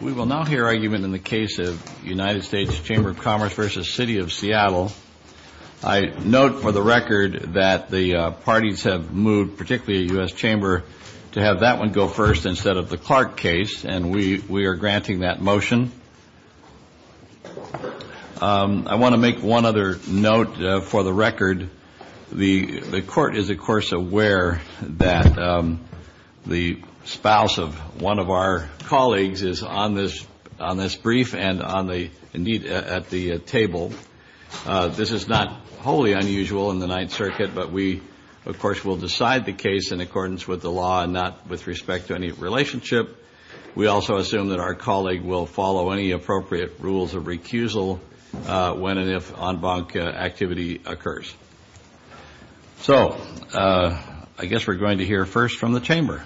We will now hear argument in the case of United States Chamber of Commerce v. City of Seattle. I note for the record that the parties have moved, particularly the U.S. Chamber, to have that one go first instead of the Clark case, and we are granting that motion. I want to make one other note for the record. The Court is, of course, aware that the spouse of one of our colleagues is on this brief and, indeed, at the table. This is not wholly unusual in the Ninth Circuit, but we, of course, will decide the case in accordance with the law and not with respect to any relationship. We also assume that our colleague will follow any appropriate rules of recusal when and if en banc activity occurs. So I guess we're going to hear first from the Chamber.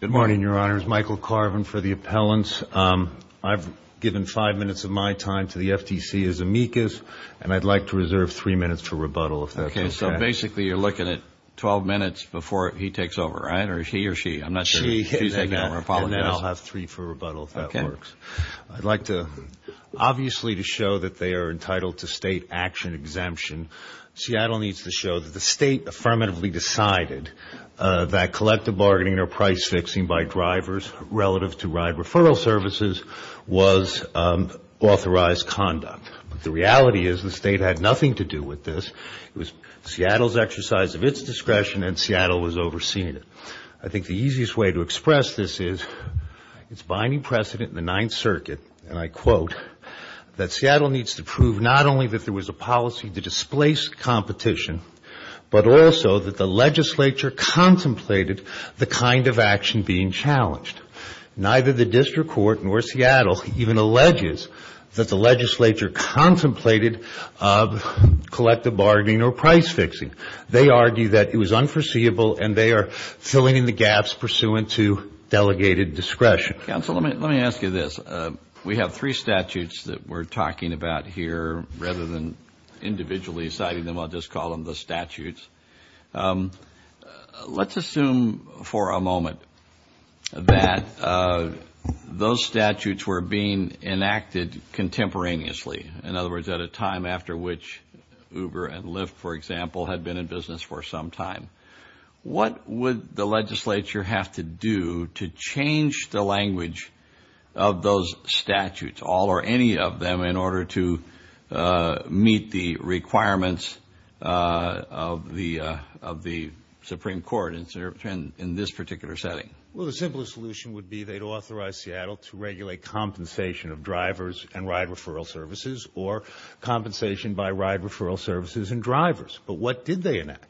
Good morning, Your Honors. Michael Carvin for the appellants. I've given five minutes of my time to the FTC as amicus, and I'd like to reserve three minutes for rebuttal if that's okay. Okay. So basically you're looking at 12 minutes before he takes over, right, or he or she? I'm not sure she's taking over. She and I will have three for rebuttal if that works. I'd like to obviously to show that they are entitled to State action exemption. Seattle needs to show that the State affirmatively decided that collective bargaining or price fixing by drivers relative to ride referral services was authorized conduct. But the reality is the State had nothing to do with this. It was Seattle's exercise of its discretion, and Seattle was overseeing it. I think the easiest way to express this is it's binding precedent in the Ninth Circuit, and I quote, that Seattle needs to prove not only that there was a policy to displace competition, but also that the legislature contemplated the kind of action being challenged. Neither the district court nor Seattle even alleges that the legislature contemplated collective bargaining or price fixing. They argue that it was unforeseeable, and they are filling in the gaps pursuant to delegated discretion. Counsel, let me ask you this. We have three statutes that we're talking about here rather than individually citing them. I'll just call them the statutes. Let's assume for a moment that those statutes were being enacted contemporaneously. In other words, at a time after which Uber and Lyft, for example, had been in business for some time. What would the legislature have to do to change the language of those statutes, all or any of them, in order to meet the requirements of the Supreme Court in this particular setting? Well, the simplest solution would be they'd authorize Seattle to regulate compensation of drivers and ride referral services or compensation by ride referral services and drivers. But what did they enact?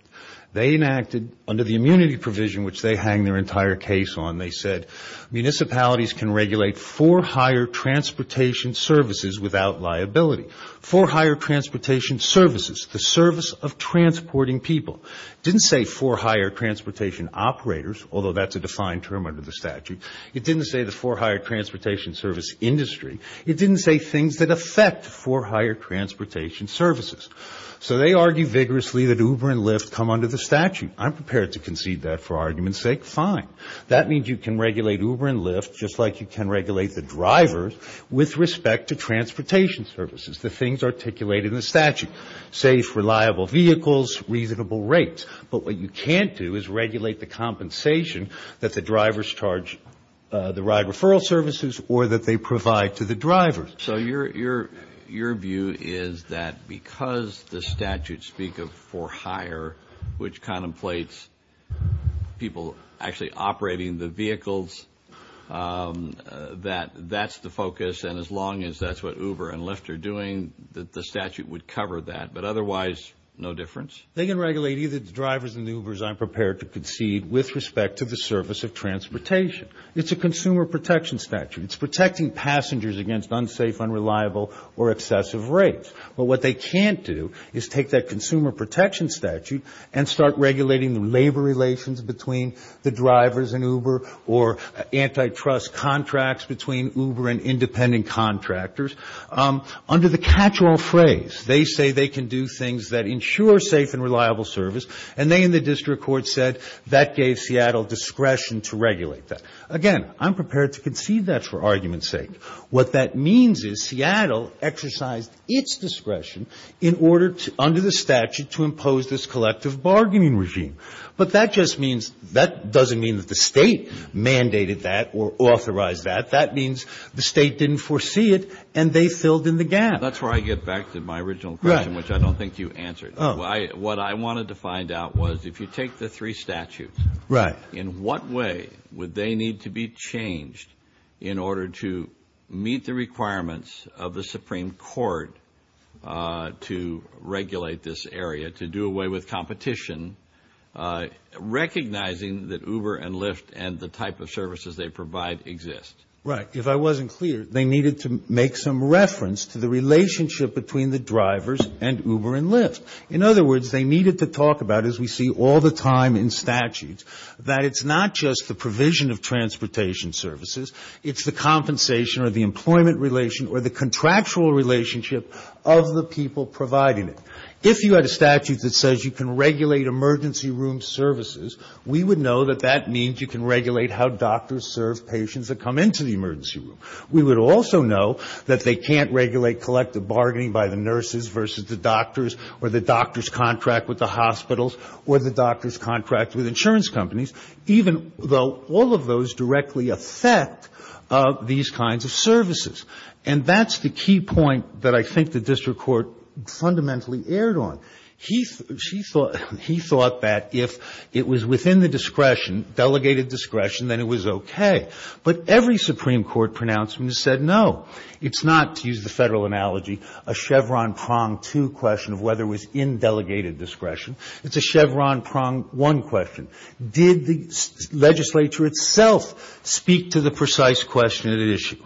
They enacted under the immunity provision, which they hang their entire case on, they said, municipalities can regulate for hire transportation services without liability. For hire transportation services, the service of transporting people. It didn't say for hire transportation operators, although that's a defined term under the statute. It didn't say the for hire transportation service industry. It didn't say things that affect for hire transportation services. So they argue vigorously that Uber and Lyft come under the statute. I'm prepared to concede that for argument's sake. Fine. That means you can regulate Uber and Lyft just like you can regulate the drivers with respect to transportation services, the things articulated in the statute, safe, reliable vehicles, reasonable rates. But what you can't do is regulate the compensation that the drivers charge the ride referral services or that they provide to the drivers. So your view is that because the statutes speak of for hire, which contemplates people actually operating the vehicles, that that's the focus, and as long as that's what Uber and Lyft are doing, that the statute would cover that. But otherwise, no difference? They can regulate either the drivers and the Ubers, I'm prepared to concede, with respect to the service of transportation. It's a consumer protection statute. It's protecting passengers against unsafe, unreliable, or excessive rates. But what they can't do is take that consumer protection statute and start regulating the labor relations between the drivers and Uber or antitrust contracts between Uber and independent contractors. Under the catch-all phrase, they say they can do things that ensure safe and reliable service, and they in the district court said that gave Seattle discretion to regulate that. Again, I'm prepared to concede that for argument's sake. What that means is Seattle exercised its discretion under the statute to impose this collective bargaining regime. But that just means that doesn't mean that the state mandated that or authorized that. That means the state didn't foresee it, and they filled in the gap. That's where I get back to my original question, which I don't think you answered. What I wanted to find out was if you take the three statutes, in what way would they need to be changed in order to meet the requirements of the Supreme Court to regulate this area, to do away with competition, recognizing that Uber and Lyft and the type of services they provide exist? Right. If I wasn't clear, they needed to make some reference to the relationship between the drivers and Uber and Lyft. In other words, they needed to talk about, as we see all the time in statutes, that it's not just the provision of transportation services. It's the compensation or the employment relation or the contractual relationship of the people providing it. If you had a statute that says you can regulate emergency room services, we would know that that means you can regulate how doctors serve patients that come into the emergency room. We would also know that they can't regulate collective bargaining by the nurses versus the doctors or the doctor's contract with the hospitals or the doctor's contract with insurance companies, even though all of those directly affect these kinds of services. And that's the key point that I think the district court fundamentally erred on. He thought that if it was within the discretion, delegated discretion, then it was okay. But every Supreme Court pronouncement has said no. It's not, to use the Federal analogy, a Chevron prong two question of whether it was in delegated discretion. It's a Chevron prong one question. Did the legislature itself speak to the precise question at issue?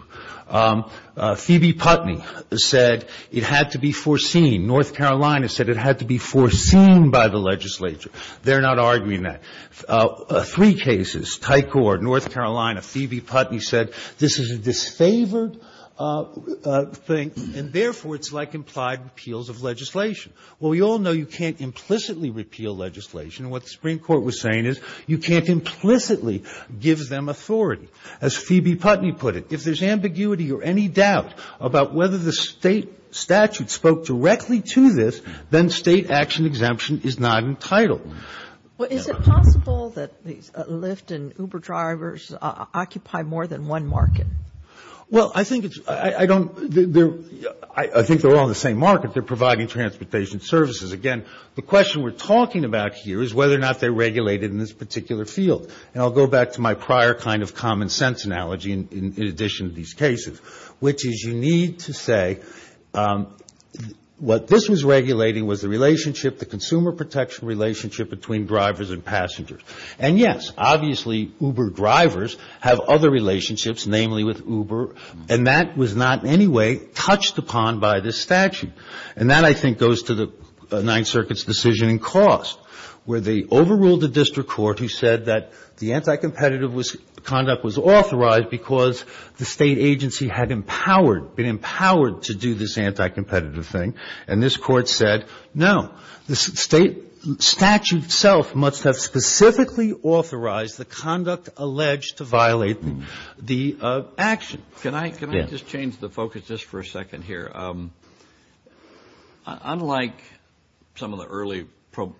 Phoebe Putney said it had to be foreseen. North Carolina said it had to be foreseen by the legislature. They're not arguing that. Three cases, Tycord, North Carolina, Phoebe Putney said this is a disfavored thing, and therefore it's like implied repeals of legislation. Well, we all know you can't implicitly repeal legislation. And what the Supreme Court was saying is you can't implicitly give them authority. As Phoebe Putney put it, if there's ambiguity or any doubt about whether the State statute spoke directly to this, then State action exemption is not entitled. Well, is it possible that Lyft and Uber drivers occupy more than one market? Well, I think it's ‑‑ I don't ‑‑ I think they're all in the same market. They're providing transportation services. Again, the question we're talking about here is whether or not they're regulated in this particular field. And I'll go back to my prior kind of common sense analogy in addition to these cases, which is you need to say what this was regulating was the relationship, the consumer protection relationship between drivers and passengers. And, yes, obviously Uber drivers have other relationships, namely with Uber, and that was not in any way touched upon by this statute. And that, I think, goes to the Ninth Circuit's decision in cost, where they overruled the district court who said that the anti‑competitive conduct was authorized because the State agency had empowered, been empowered to do this anti‑competitive thing. And this court said, no, the State statute itself must have specifically authorized the conduct alleged to violate the action. Can I just change the focus just for a second here? Unlike some of the early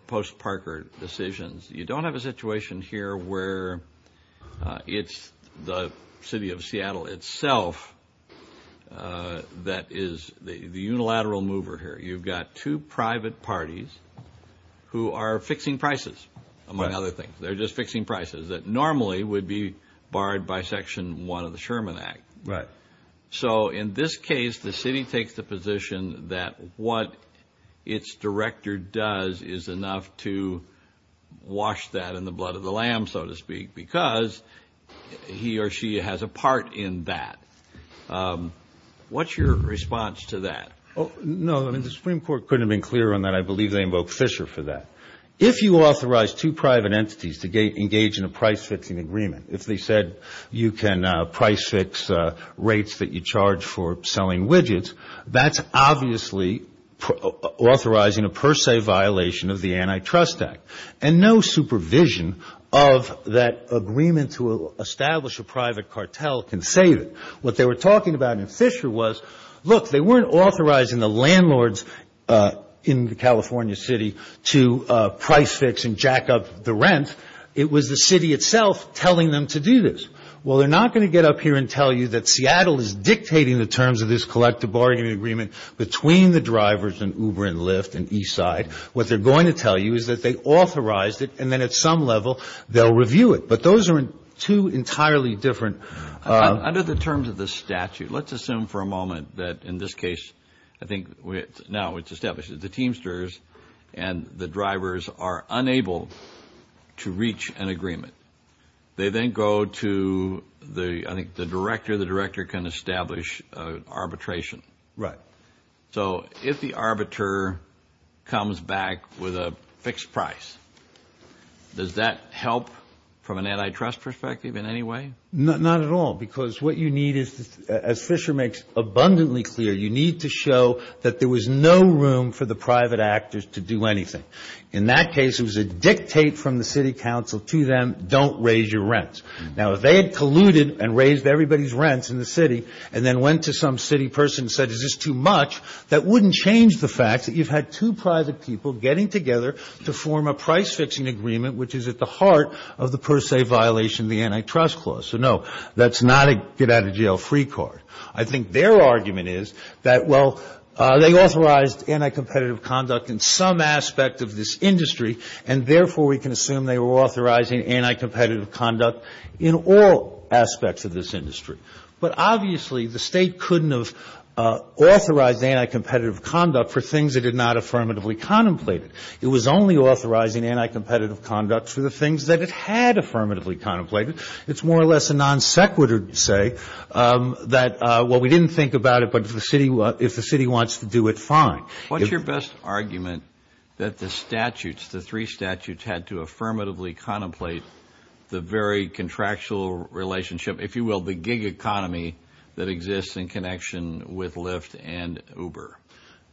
post‑Parker decisions, you don't have a situation here where it's the City of Seattle itself that is the unilateral mover here. You've got two private parties who are fixing prices, among other things. They're just fixing prices that normally would be barred by Section 1 of the Sherman Act. Right. So in this case, the city takes the position that what its director does is enough to wash that in the blood of the lamb, so to speak, because he or she has a part in that. What's your response to that? No, I mean, the Supreme Court couldn't have been clearer on that. I believe they invoked Fisher for that. If you authorize two private entities to engage in a price fixing agreement, if they said you can price fix rates that you charge for selling widgets, that's obviously authorizing a per se violation of the Antitrust Act. And no supervision of that agreement to establish a private cartel can save it. What they were talking about in Fisher was, look, they weren't authorizing the landlords in the California city to price fix and jack up the rent. It was the city itself telling them to do this. Well, they're not going to get up here and tell you that Seattle is dictating the terms of this collective bargaining agreement between the drivers and Uber and Lyft and Eastside. What they're going to tell you is that they authorized it, and then at some level they'll review it. But those are two entirely different – Under the terms of the statute, let's assume for a moment that in this case, I think now it's established that the Teamsters and the drivers are unable to reach an agreement. They then go to, I think, the director. The director can establish arbitration. Right. So if the arbiter comes back with a fixed price, does that help from an antitrust perspective in any way? Not at all, because what you need is, as Fisher makes abundantly clear, you need to show that there was no room for the private actors to do anything. In that case, it was a dictate from the city council to them, don't raise your rents. Now, if they had colluded and raised everybody's rents in the city and then went to some city person and said, is this too much, that wouldn't change the fact that you've had two private people getting together to form a price-fixing agreement, which is at the heart of the per se violation of the antitrust clause. So, no, that's not a get-out-of-jail-free card. I think their argument is that, well, they authorized anti-competitive conduct in some aspect of this industry, and therefore we can assume they were authorizing anti-competitive conduct in all aspects of this industry. But obviously the state couldn't have authorized anti-competitive conduct for things it had not affirmatively contemplated. It was only authorizing anti-competitive conduct for the things that it had affirmatively contemplated. It's more or less a non-sequitur to say that, well, we didn't think about it, but if the city wants to do it, fine. What's your best argument that the statutes, the three statutes, had to affirmatively contemplate the very contractual relationship, if you will, the gig economy that exists in connection with Lyft and Uber?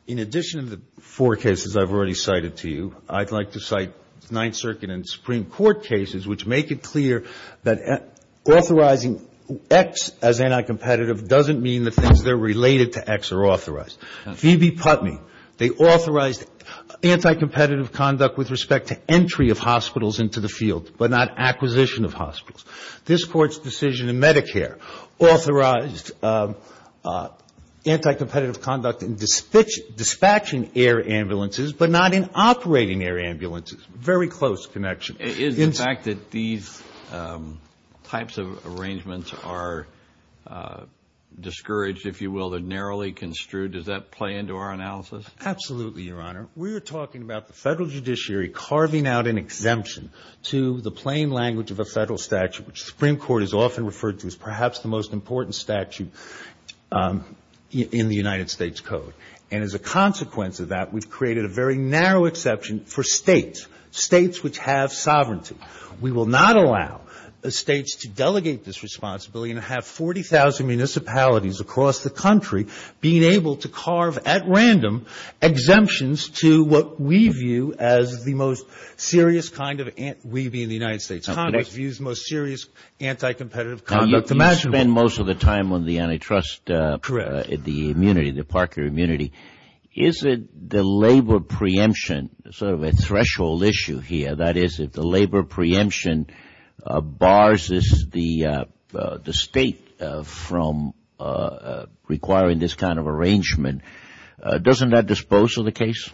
In addition to the four cases I've already cited to you, I'd like to cite Ninth Circuit and Supreme Court cases which make it clear that authorizing X as anti-competitive doesn't mean the things that are related to X are authorized. Phoebe Putney, they authorized anti-competitive conduct with respect to entry of hospitals into the field, but not acquisition of hospitals. This Court's decision in Medicare authorized anti-competitive conduct in dispatching air ambulances, but not in operating air ambulances. Very close connection. Is the fact that these types of arrangements are discouraged, if you will, they're narrowly construed, does that play into our analysis? Absolutely, Your Honor. We are talking about the federal judiciary carving out an exemption to the plain language of a federal statute, which the Supreme Court has often referred to as perhaps the most important statute in the United States Code. And as a consequence of that, we've created a very narrow exception for states, states which have sovereignty. We will not allow the states to delegate this responsibility and have 40,000 municipalities across the country being able to carve at random exemptions to what we view as the most serious kind of, we being the United States Congress, views most serious anti-competitive conduct. You spend most of the time on the antitrust, the immunity, the parker immunity. Is it the labor preemption, sort of a threshold issue here, that is if the labor preemption bars the state from requiring this kind of arrangement, doesn't that dispose of the case?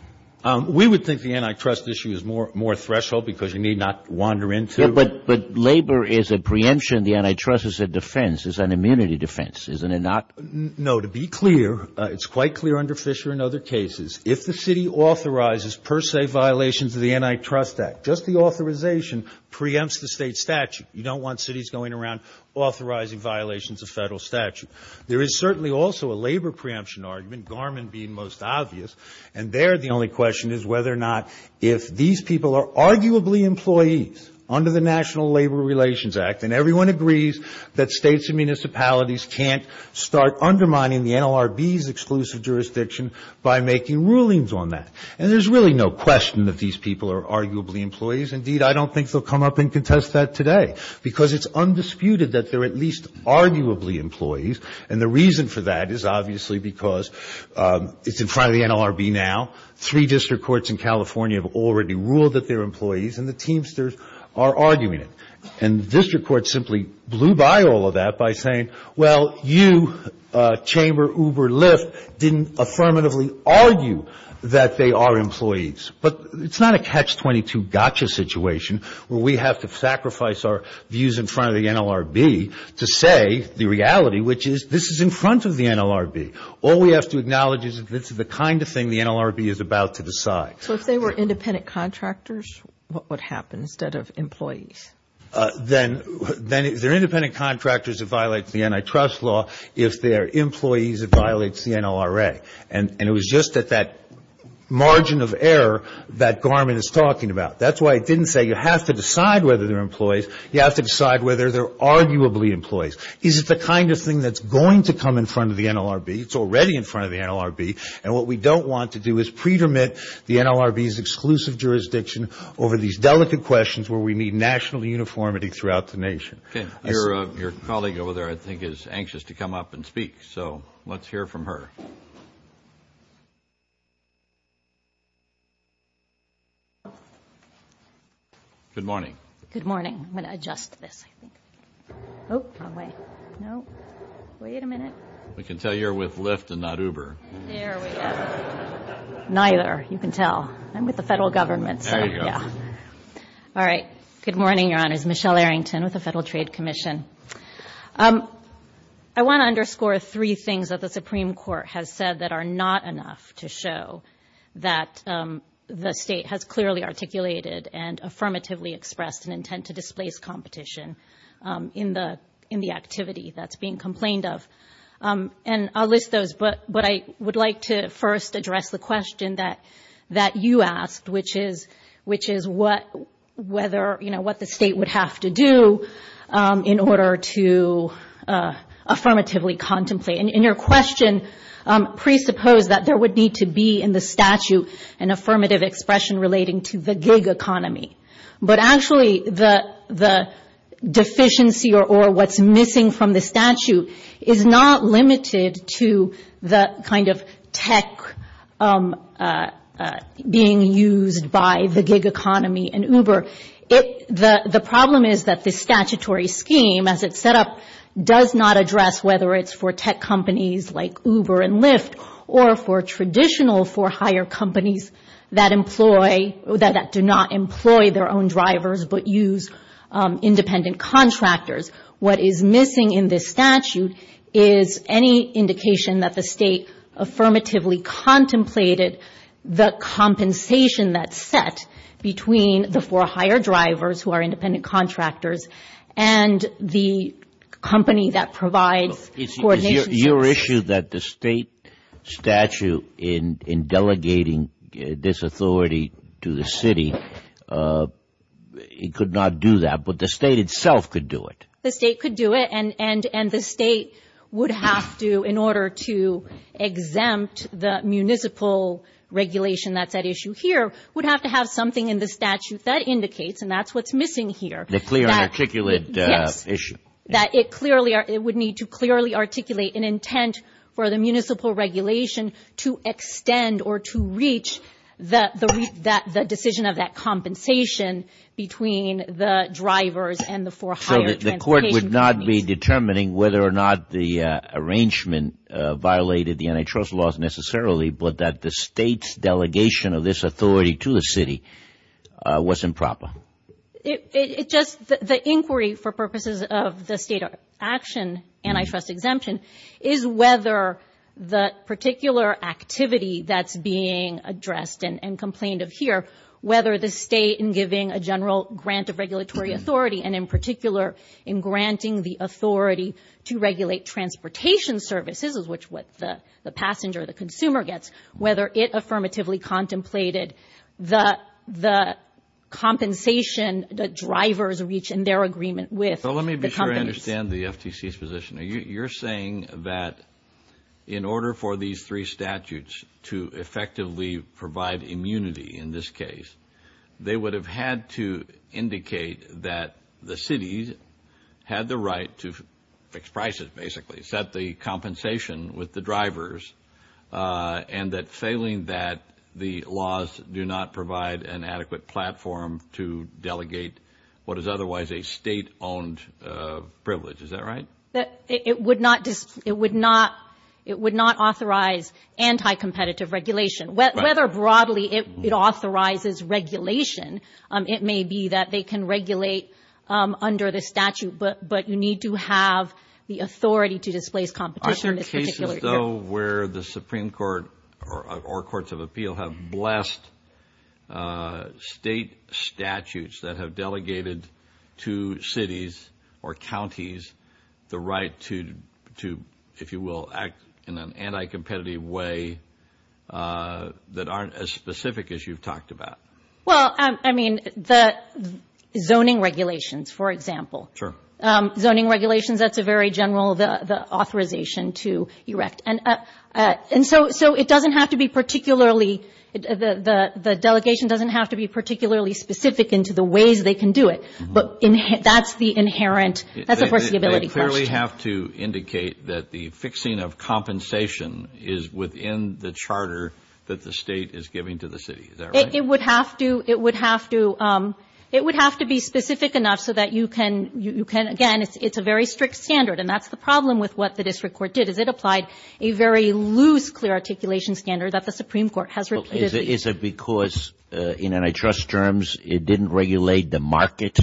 We would think the antitrust issue is more threshold because you need not wander into it. But labor is a preemption. The antitrust is a defense. It's an immunity defense, isn't it not? No. To be clear, it's quite clear under Fisher and other cases, if the city authorizes per se violations of the Antitrust Act, just the authorization preempts the state statute. You don't want cities going around authorizing violations of federal statute. There is certainly also a labor preemption argument, Garmin being most obvious, and there the only question is whether or not if these people are arguably employees under the National Labor Relations Act and everyone agrees that states and municipalities can't start undermining the NLRB's exclusive jurisdiction by making rulings on that. And there's really no question that these people are arguably employees. Indeed, I don't think they'll come up and contest that today because it's undisputed that they're at least arguably employees. And the reason for that is obviously because it's in front of the NLRB now. Three district courts in California have already ruled that they're employees, and the Teamsters are arguing it. And the district court simply blew by all of that by saying, well, you, Chamber, Uber, Lyft, didn't affirmatively argue that they are employees. But it's not a catch-22 gotcha situation where we have to sacrifice our views in front of the NLRB to say the reality, which is this is in front of the NLRB. All we have to acknowledge is that this is the kind of thing the NLRB is about to decide. So if they were independent contractors, what would happen instead of employees? Then they're independent contractors that violate the antitrust law. If they're employees, it violates the NLRA. And it was just at that margin of error that Garmin is talking about. That's why it didn't say you have to decide whether they're employees. You have to decide whether they're arguably employees. Is it the kind of thing that's going to come in front of the NLRB? It's already in front of the NLRB. And what we don't want to do is pretermit the NLRB's exclusive jurisdiction over these delicate questions where we need national uniformity throughout the nation. Okay. Your colleague over there, I think, is anxious to come up and speak. So let's hear from her. Good morning. Good morning. I'm going to adjust this. Oh, wrong way. No. Wait a minute. We can tell you're with Lyft and not Uber. There we go. Neither. You can tell. I'm with the federal government. There you go. All right. Good morning, Your Honors. Michelle Arrington with the Federal Trade Commission. I want to underscore three things that the Supreme Court has said that are not enough to show that the state has clearly articulated and affirmatively expressed an intent to displace competition in the activity that's being complained of. And I'll list those, but I would like to first address the question that you asked, which is what the state would have to do in order to affirmatively contemplate. And your question presupposed that there would need to be in the statute an affirmative expression relating to the gig economy. But actually the deficiency or what's missing from the statute is not limited to the kind of tech being used by the gig economy and Uber. The problem is that the statutory scheme as it's set up does not address whether it's for tech companies like Uber and Lyft or for traditional for hire companies that do not employ their own drivers but use independent contractors. What is missing in this statute is any indication that the state affirmatively contemplated the compensation that's set between the for hire drivers who are independent contractors and the company that provides coordination. Your issue that the state statute in delegating this authority to the city, it could not do that. But the state itself could do it. The state could do it and the state would have to in order to exempt the municipal regulation that's at issue here would have to have something in the statute that indicates and that's what's missing here. The clear and articulate issue. It would need to clearly articulate an intent for the municipal regulation to extend or to reach the decision of that compensation between the drivers and the for hire transportation companies. So the court would not be determining whether or not the arrangement violated the antitrust laws necessarily but that the state's delegation of this authority to the city was improper. The inquiry for purposes of the state action antitrust exemption is whether the particular activity that's being addressed and complained of here, whether the state in giving a general grant of regulatory authority and in particular in granting the authority to regulate transportation services, which is what the passenger, the consumer gets, whether it affirmatively contemplated the compensation that drivers reach in their agreement with the companies. So let me be sure I understand the FTC's position. You're saying that in order for these three statutes to effectively provide immunity in this case, they would have had to indicate that the cities had the right to fix prices basically, set the compensation with the drivers and that failing that, the laws do not provide an adequate platform to delegate what is otherwise a state-owned privilege. Is that right? It would not authorize anti-competitive regulation. Whether broadly it authorizes regulation, it may be that they can regulate under the statute, but you need to have the authority to displace competition. Are there cases, though, where the Supreme Court or courts of appeal have blessed state statutes that have delegated to cities or counties the right to, if you will, act in an anti-competitive way that aren't as specific as you've talked about? Well, I mean, the zoning regulations, for example. Sure. Zoning regulations, that's a very general authorization to erect. And so it doesn't have to be particularly, the delegation doesn't have to be particularly specific into the ways they can do it, but that's the inherent, that's of course the ability question. They clearly have to indicate that the fixing of compensation is within the charter that the state is giving to the city. Is that right? It would have to be specific enough so that you can, again, it's a very strict standard, and that's the problem with what the district court did, is it applied a very loose, clear articulation standard that the Supreme Court has repeatedly. Is it because in antitrust terms it didn't regulate the market?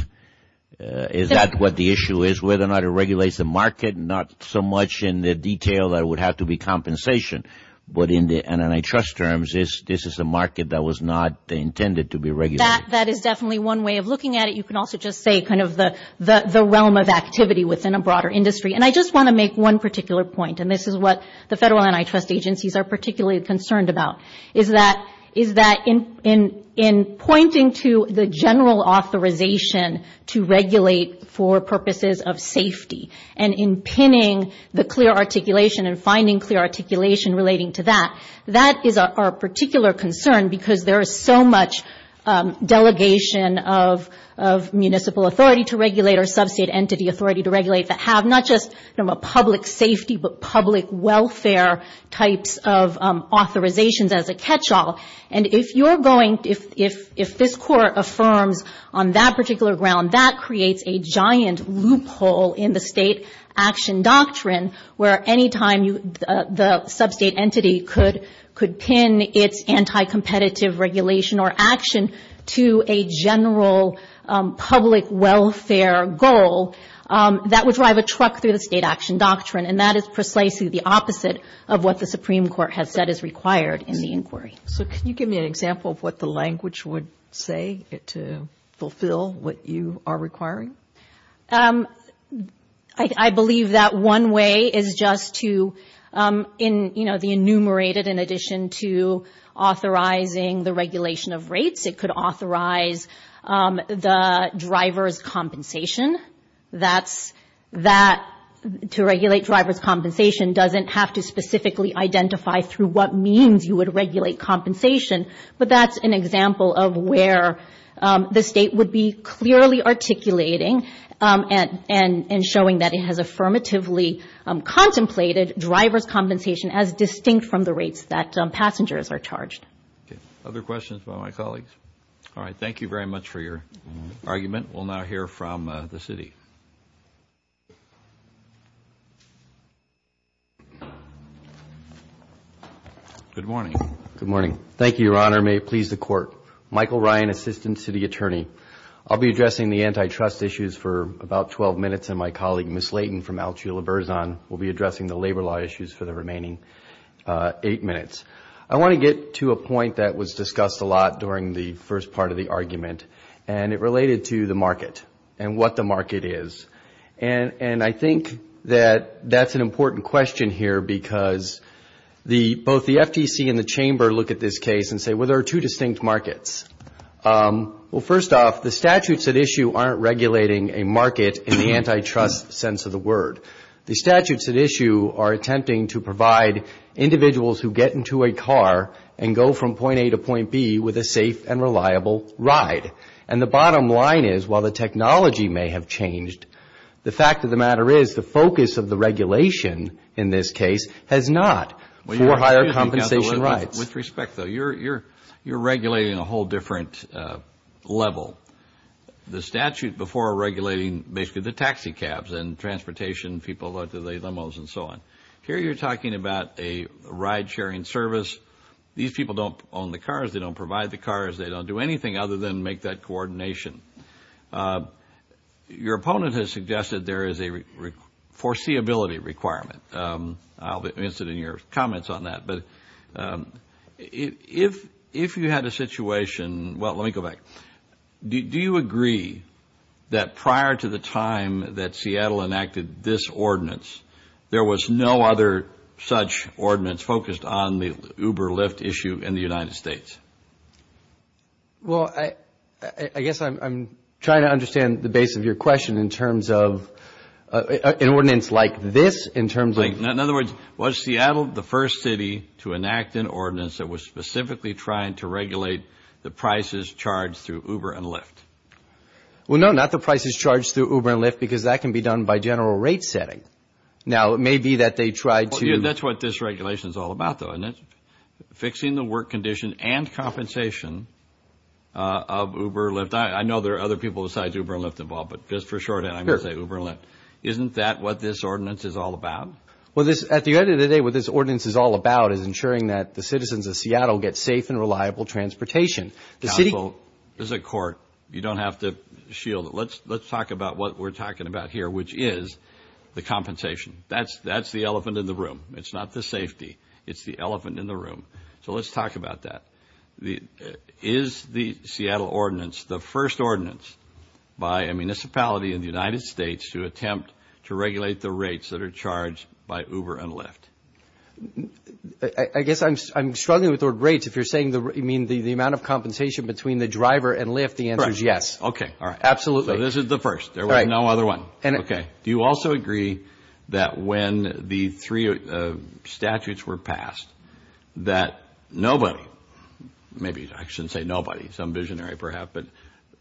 Is that what the issue is, whether or not it regulates the market? Not so much in the detail that it would have to be compensation, but in the antitrust terms this is a market that was not intended to be regulated. That is definitely one way of looking at it. You can also just say kind of the realm of activity within a broader industry. And I just want to make one particular point, and this is what the federal antitrust agencies are particularly concerned about, is that in pointing to the general authorization to regulate for purposes of safety, and in pinning the clear articulation and finding clear articulation relating to that, that is our particular concern because there is so much delegation of municipal authority to regulate or sub-state entity authority to regulate that have not just public safety, but public welfare types of authorizations as a catch-all. And if you're going, if this court affirms on that particular ground, that creates a giant loophole in the state action doctrine, where any time the sub-state entity could pin its anti-competitive regulation or action to a general public welfare goal, that would drive a truck through the state action doctrine. And that is precisely the opposite of what the Supreme Court has said is required in the inquiry. So can you give me an example of what the language would say to fulfill what you are requiring? I believe that one way is just to, you know, the enumerated in addition to authorizing the regulation of rates, it could authorize the driver's compensation, that to regulate driver's compensation doesn't have to specifically identify through what means you would regulate compensation, but that's an example of where the state would be clearly articulating and showing that it has affirmatively contemplated driver's compensation as distinct from the rates that passengers are charged. Other questions by my colleagues? All right, thank you very much for your argument. We'll now hear from the city. Good morning. Good morning. Thank you, Your Honor. May it please the Court. Michael Ryan, Assistant City Attorney. I'll be addressing the antitrust issues for about 12 minutes, and my colleague Ms. Layton from Alchula-Burzon will be addressing the labor law issues for the remaining eight minutes. I want to get to a point that was discussed a lot during the first part of the argument, and it related to the market and what the market is. And I think that that's an important question here, because both the FTC and the Chamber look at this case and say, well, there are two distinct markets. Well, first off, the statutes at issue aren't regulating a market in the antitrust sense of the word. The statutes at issue are attempting to provide individuals who get into a car and go from point A to point B with a safe and reliable ride. And the bottom line is, while the technology may have changed, the fact of the matter is the focus of the regulation in this case has not for higher compensation rights. With respect, though, you're regulating a whole different level. The statute before regulating basically the taxi cabs and transportation, people like to lay limos and so on. Here you're talking about a ride-sharing service. These people don't own the cars. They don't provide the cars. They don't do anything other than make that coordination. Your opponent has suggested there is a foreseeability requirement. I'll be interested in your comments on that. But if you had a situation – well, let me go back. Do you agree that prior to the time that Seattle enacted this ordinance, there was no other such ordinance focused on the Uber-Lyft issue in the United States? Well, I guess I'm trying to understand the base of your question in terms of an ordinance like this, in terms of – In other words, was Seattle the first city to enact an ordinance that was specifically trying to regulate the prices charged through Uber and Lyft? Well, no, not the prices charged through Uber and Lyft because that can be done by general rate setting. Now, it may be that they tried to – That's what this regulation is all about, though, fixing the work condition and compensation of Uber and Lyft. I know there are other people besides Uber and Lyft involved, but just for shorthand, I'm going to say Uber and Lyft. Isn't that what this ordinance is all about? Well, at the end of the day, what this ordinance is all about is ensuring that the citizens of Seattle get safe and reliable transportation. Council is a court. You don't have to shield it. Let's talk about what we're talking about here, which is the compensation. That's the elephant in the room. It's not the safety. It's the elephant in the room. So let's talk about that. Is the Seattle ordinance the first ordinance by a municipality in the United States to attempt to regulate the rates that are charged by Uber and Lyft? I guess I'm struggling with the word rates. If you're saying the amount of compensation between the driver and Lyft, the answer is yes. Okay. Absolutely. So this is the first. There was no other one. Okay. Do you also agree that when the three statutes were passed that nobody, maybe I shouldn't say nobody, some visionary perhaps, but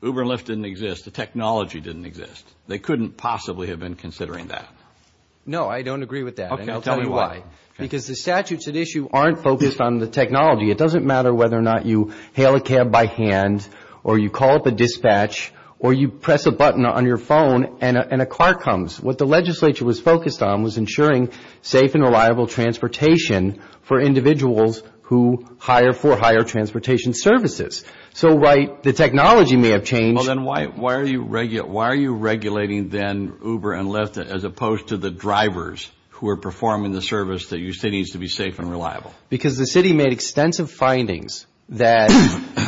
Uber and Lyft didn't exist, the technology didn't exist. They couldn't possibly have been considering that. No, I don't agree with that, and I'll tell you why. Because the statutes at issue aren't focused on the technology. It doesn't matter whether or not you hail a cab by hand or you call up a dispatch or you press a button on your phone and a car comes. What the legislature was focused on was ensuring safe and reliable transportation for individuals who hire for higher transportation services. So, right, the technology may have changed. Well, then why are you regulating then Uber and Lyft as opposed to the drivers who are performing the service that you say needs to be safe and reliable? Because the city made extensive findings that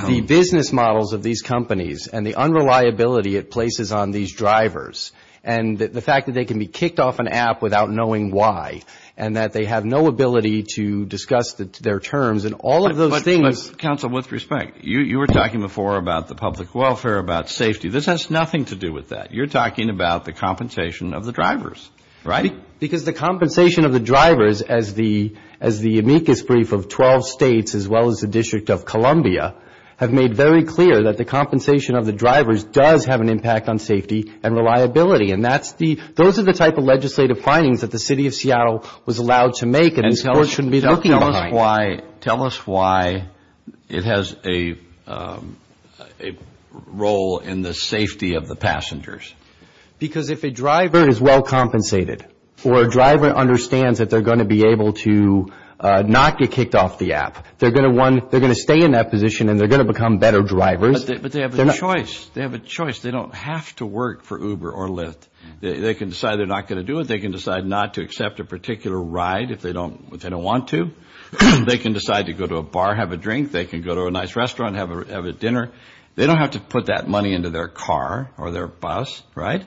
the business models of these companies and the unreliability it places on these drivers and the fact that they can be kicked off an app without knowing why and that they have no ability to discuss their terms and all of those things. But, counsel, with respect, you were talking before about the public welfare, about safety. This has nothing to do with that. You're talking about the compensation of the drivers, right? Because the compensation of the drivers as the amicus brief of 12 states as well as the District of Columbia have made very clear that the compensation of the drivers does have an impact on safety and reliability, and those are the type of legislative findings that the city of Seattle was allowed to make and the court shouldn't be looking behind. Tell us why it has a role in the safety of the passengers. Because if a driver is well compensated or a driver understands that they're going to be able to not get kicked off the app, they're going to stay in that position and they're going to become better drivers. But they have a choice. They have a choice. They don't have to work for Uber or Lyft. They can decide they're not going to do it. They can decide not to accept a particular ride if they don't want to. They can decide to go to a bar, have a drink. They can go to a nice restaurant, have a dinner. They don't have to put that money into their car or their bus, right?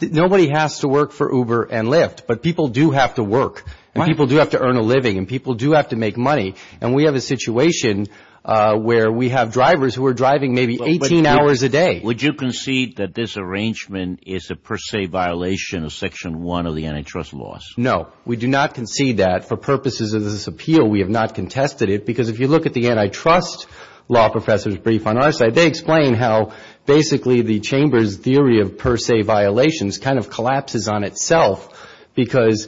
Nobody has to work for Uber and Lyft, but people do have to work and people do have to earn a living and people do have to make money, and we have a situation where we have drivers who are driving maybe 18 hours a day. Would you concede that this arrangement is a per se violation of Section 1 of the antitrust laws? No, we do not concede that. For purposes of this appeal, we have not contested it because if you look at the antitrust law professor's brief on our side, they explain how basically the Chamber's theory of per se violations kind of collapses on itself because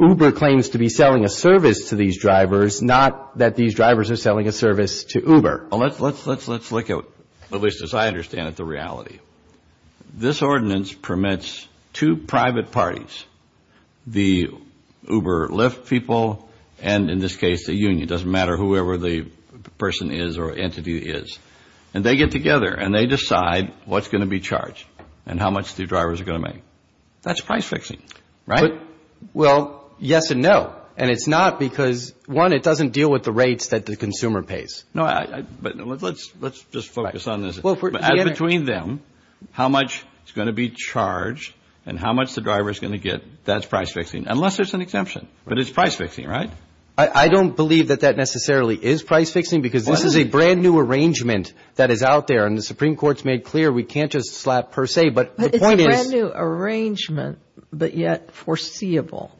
Uber claims to be selling a service to these drivers, not that these drivers are selling a service to Uber. Well, let's look at, at least as I understand it, the reality. This ordinance permits two private parties, the Uber-Lyft people and, in this case, the union. It doesn't matter whoever the person is or entity is, and they get together and they decide what's going to be charged and how much the drivers are going to make. That's price fixing, right? Well, yes and no, and it's not because, one, it doesn't deal with the rates that the consumer pays. No, but let's just focus on this. Between them, how much is going to be charged and how much the driver is going to get, that's price fixing, unless there's an exemption, but it's price fixing, right? I don't believe that that necessarily is price fixing because this is a brand-new arrangement that is out there, and the Supreme Court's made clear we can't just slap per se, but the point is— It's a brand-new arrangement, but yet foreseeable.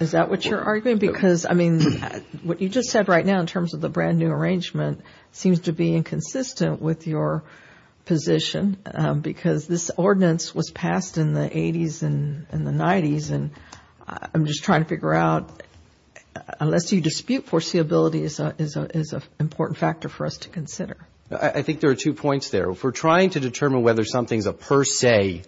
Is that what you're arguing? Because, I mean, what you just said right now in terms of the brand-new arrangement seems to be inconsistent with your position because this ordinance was passed in the 80s and the 90s, and I'm just trying to figure out, unless you dispute foreseeability is an important factor for us to consider. I think there are two points there. If we're trying to determine whether something's a per se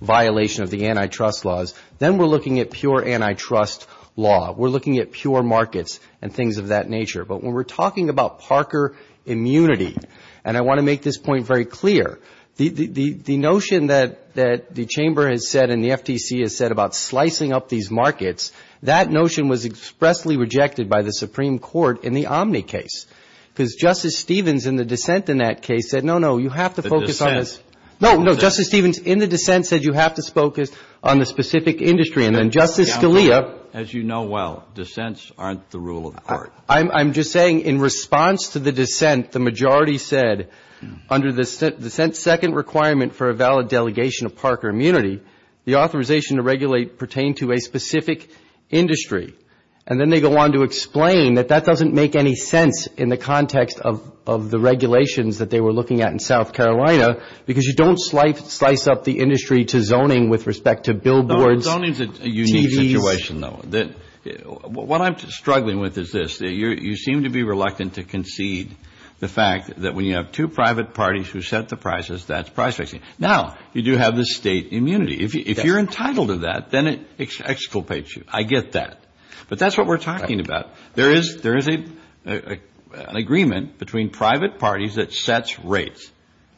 violation of the antitrust laws, then we're looking at pure antitrust law. We're looking at pure markets and things of that nature. But when we're talking about Parker immunity, and I want to make this point very clear, the notion that the Chamber has said and the FTC has said about slicing up these markets, that notion was expressly rejected by the Supreme Court in the Omni case because Justice Stevens in the dissent in that case said, no, no, you have to focus on this— The dissent? No, no, Justice Stevens in the dissent said you have to focus on the specific industry, and then Justice Scalia— I'm just saying in response to the dissent, the majority said, under the dissent's second requirement for a valid delegation of Parker immunity, the authorization to regulate pertained to a specific industry. And then they go on to explain that that doesn't make any sense in the context of the regulations that they were looking at in South Carolina, because you don't slice up the industry to zoning with respect to billboards. Zoning is a unique situation, though. What I'm struggling with is this. You seem to be reluctant to concede the fact that when you have two private parties who set the prices, that's price fixing. Now, you do have the state immunity. If you're entitled to that, then it exculpates you. I get that. But that's what we're talking about. There is an agreement between private parties that sets rates.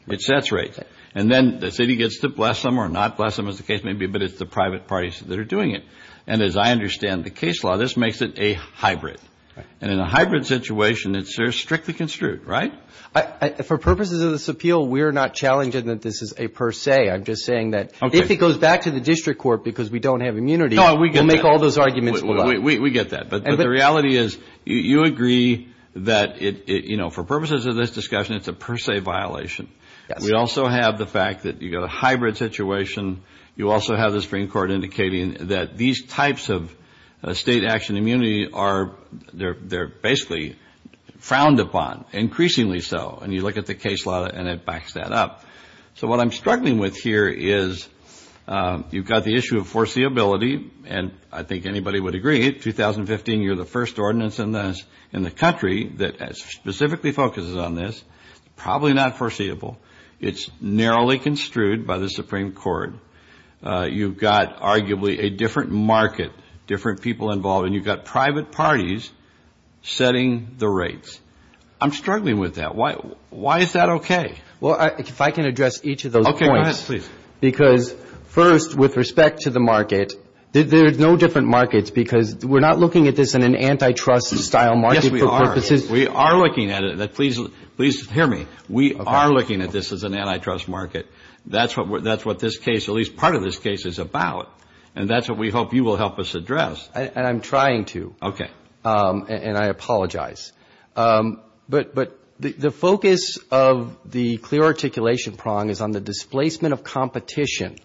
It sets rates. And then the city gets to bless them or not bless them, as the case may be, but it's the private parties that are doing it. And as I understand the case law, this makes it a hybrid. And in a hybrid situation, it's strictly construed, right? For purposes of this appeal, we're not challenging that this is a per se. I'm just saying that if it goes back to the district court because we don't have immunity, we'll make all those arguments. We get that. But the reality is you agree that, you know, for purposes of this discussion, it's a per se violation. We also have the fact that you've got a hybrid situation. You also have the Supreme Court indicating that these types of state action immunity, they're basically frowned upon, increasingly so. And you look at the case law and it backs that up. So what I'm struggling with here is you've got the issue of foreseeability, and I think anybody would agree, 2015, you're the first ordinance in the country that specifically focuses on this. Probably not foreseeable. It's narrowly construed by the Supreme Court. You've got arguably a different market, different people involved, and you've got private parties setting the rates. I'm struggling with that. Why is that okay? Well, if I can address each of those points. Okay, go ahead, please. Because, first, with respect to the market, there's no different markets because we're not looking at this in an antitrust style market. Yes, we are. We are looking at it. Please hear me. We are looking at this as an antitrust market. That's what this case, at least part of this case, is about. And that's what we hope you will help us address. And I'm trying to. Okay. And I apologize. But the focus of the clear articulation prong is on the displacement of competition,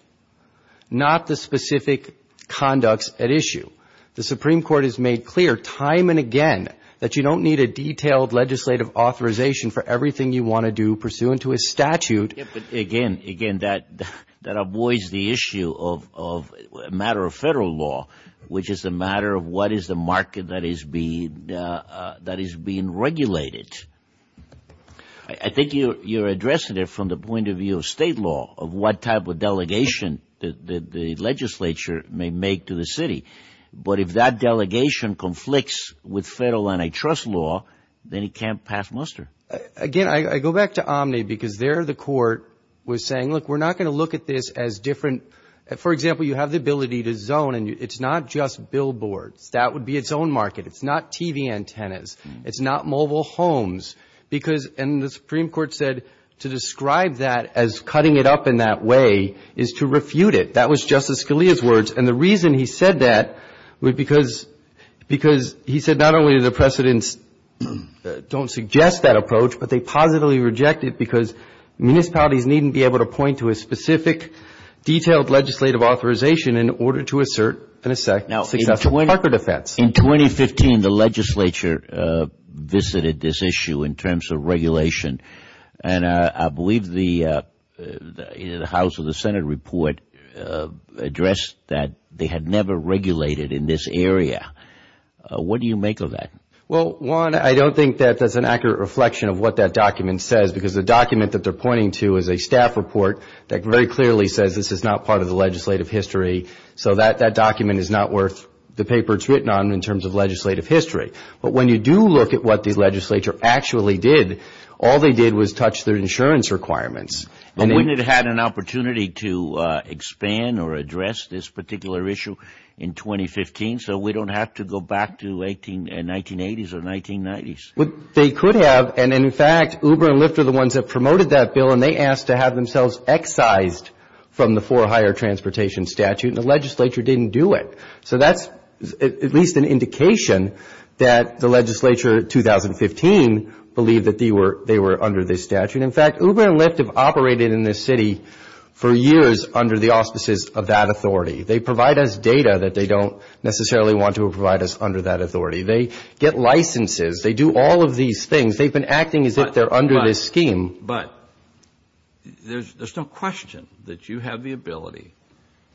not the specific conducts at issue. The Supreme Court has made clear time and again that you don't need a detailed legislative authorization for everything you want to do pursuant to a statute. Again, that avoids the issue of a matter of federal law, which is a matter of what is the market that is being regulated. I think you're addressing it from the point of view of state law of what type of delegation the legislature may make to the city. But if that delegation conflicts with federal antitrust law, then it can't pass muster. Again, I go back to Omni because there the court was saying, look, we're not going to look at this as different. For example, you have the ability to zone and it's not just billboards. That would be its own market. It's not TV antennas. It's not mobile homes. And the Supreme Court said to describe that as cutting it up in that way is to refute it. That was Justice Scalia's words. And the reason he said that was because he said not only do the precedents don't suggest that approach, but they positively reject it because municipalities needn't be able to point to a specific, detailed legislative authorization in order to assert in a successful Parker defense. In 2015, the legislature visited this issue in terms of regulation. And I believe the House or the Senate report addressed that they had never regulated in this area. What do you make of that? Well, one, I don't think that that's an accurate reflection of what that document says, because the document that they're pointing to is a staff report that very clearly says this is not part of the legislative history. So that document is not worth the paper it's written on in terms of legislative history. But when you do look at what the legislature actually did, all they did was touch their insurance requirements. But wouldn't it have had an opportunity to expand or address this particular issue in 2015 so we don't have to go back to 1980s or 1990s? They could have. And, in fact, Uber and Lyft are the ones that promoted that bill, and they asked to have themselves excised from the for hire transportation statute, and the legislature didn't do it. So that's at least an indication that the legislature in 2015 believed that they were under this statute. In fact, Uber and Lyft have operated in this city for years under the auspices of that authority. They provide us data that they don't necessarily want to provide us under that authority. They get licenses. They do all of these things. They've been acting as if they're under this scheme. But there's no question that you have the ability,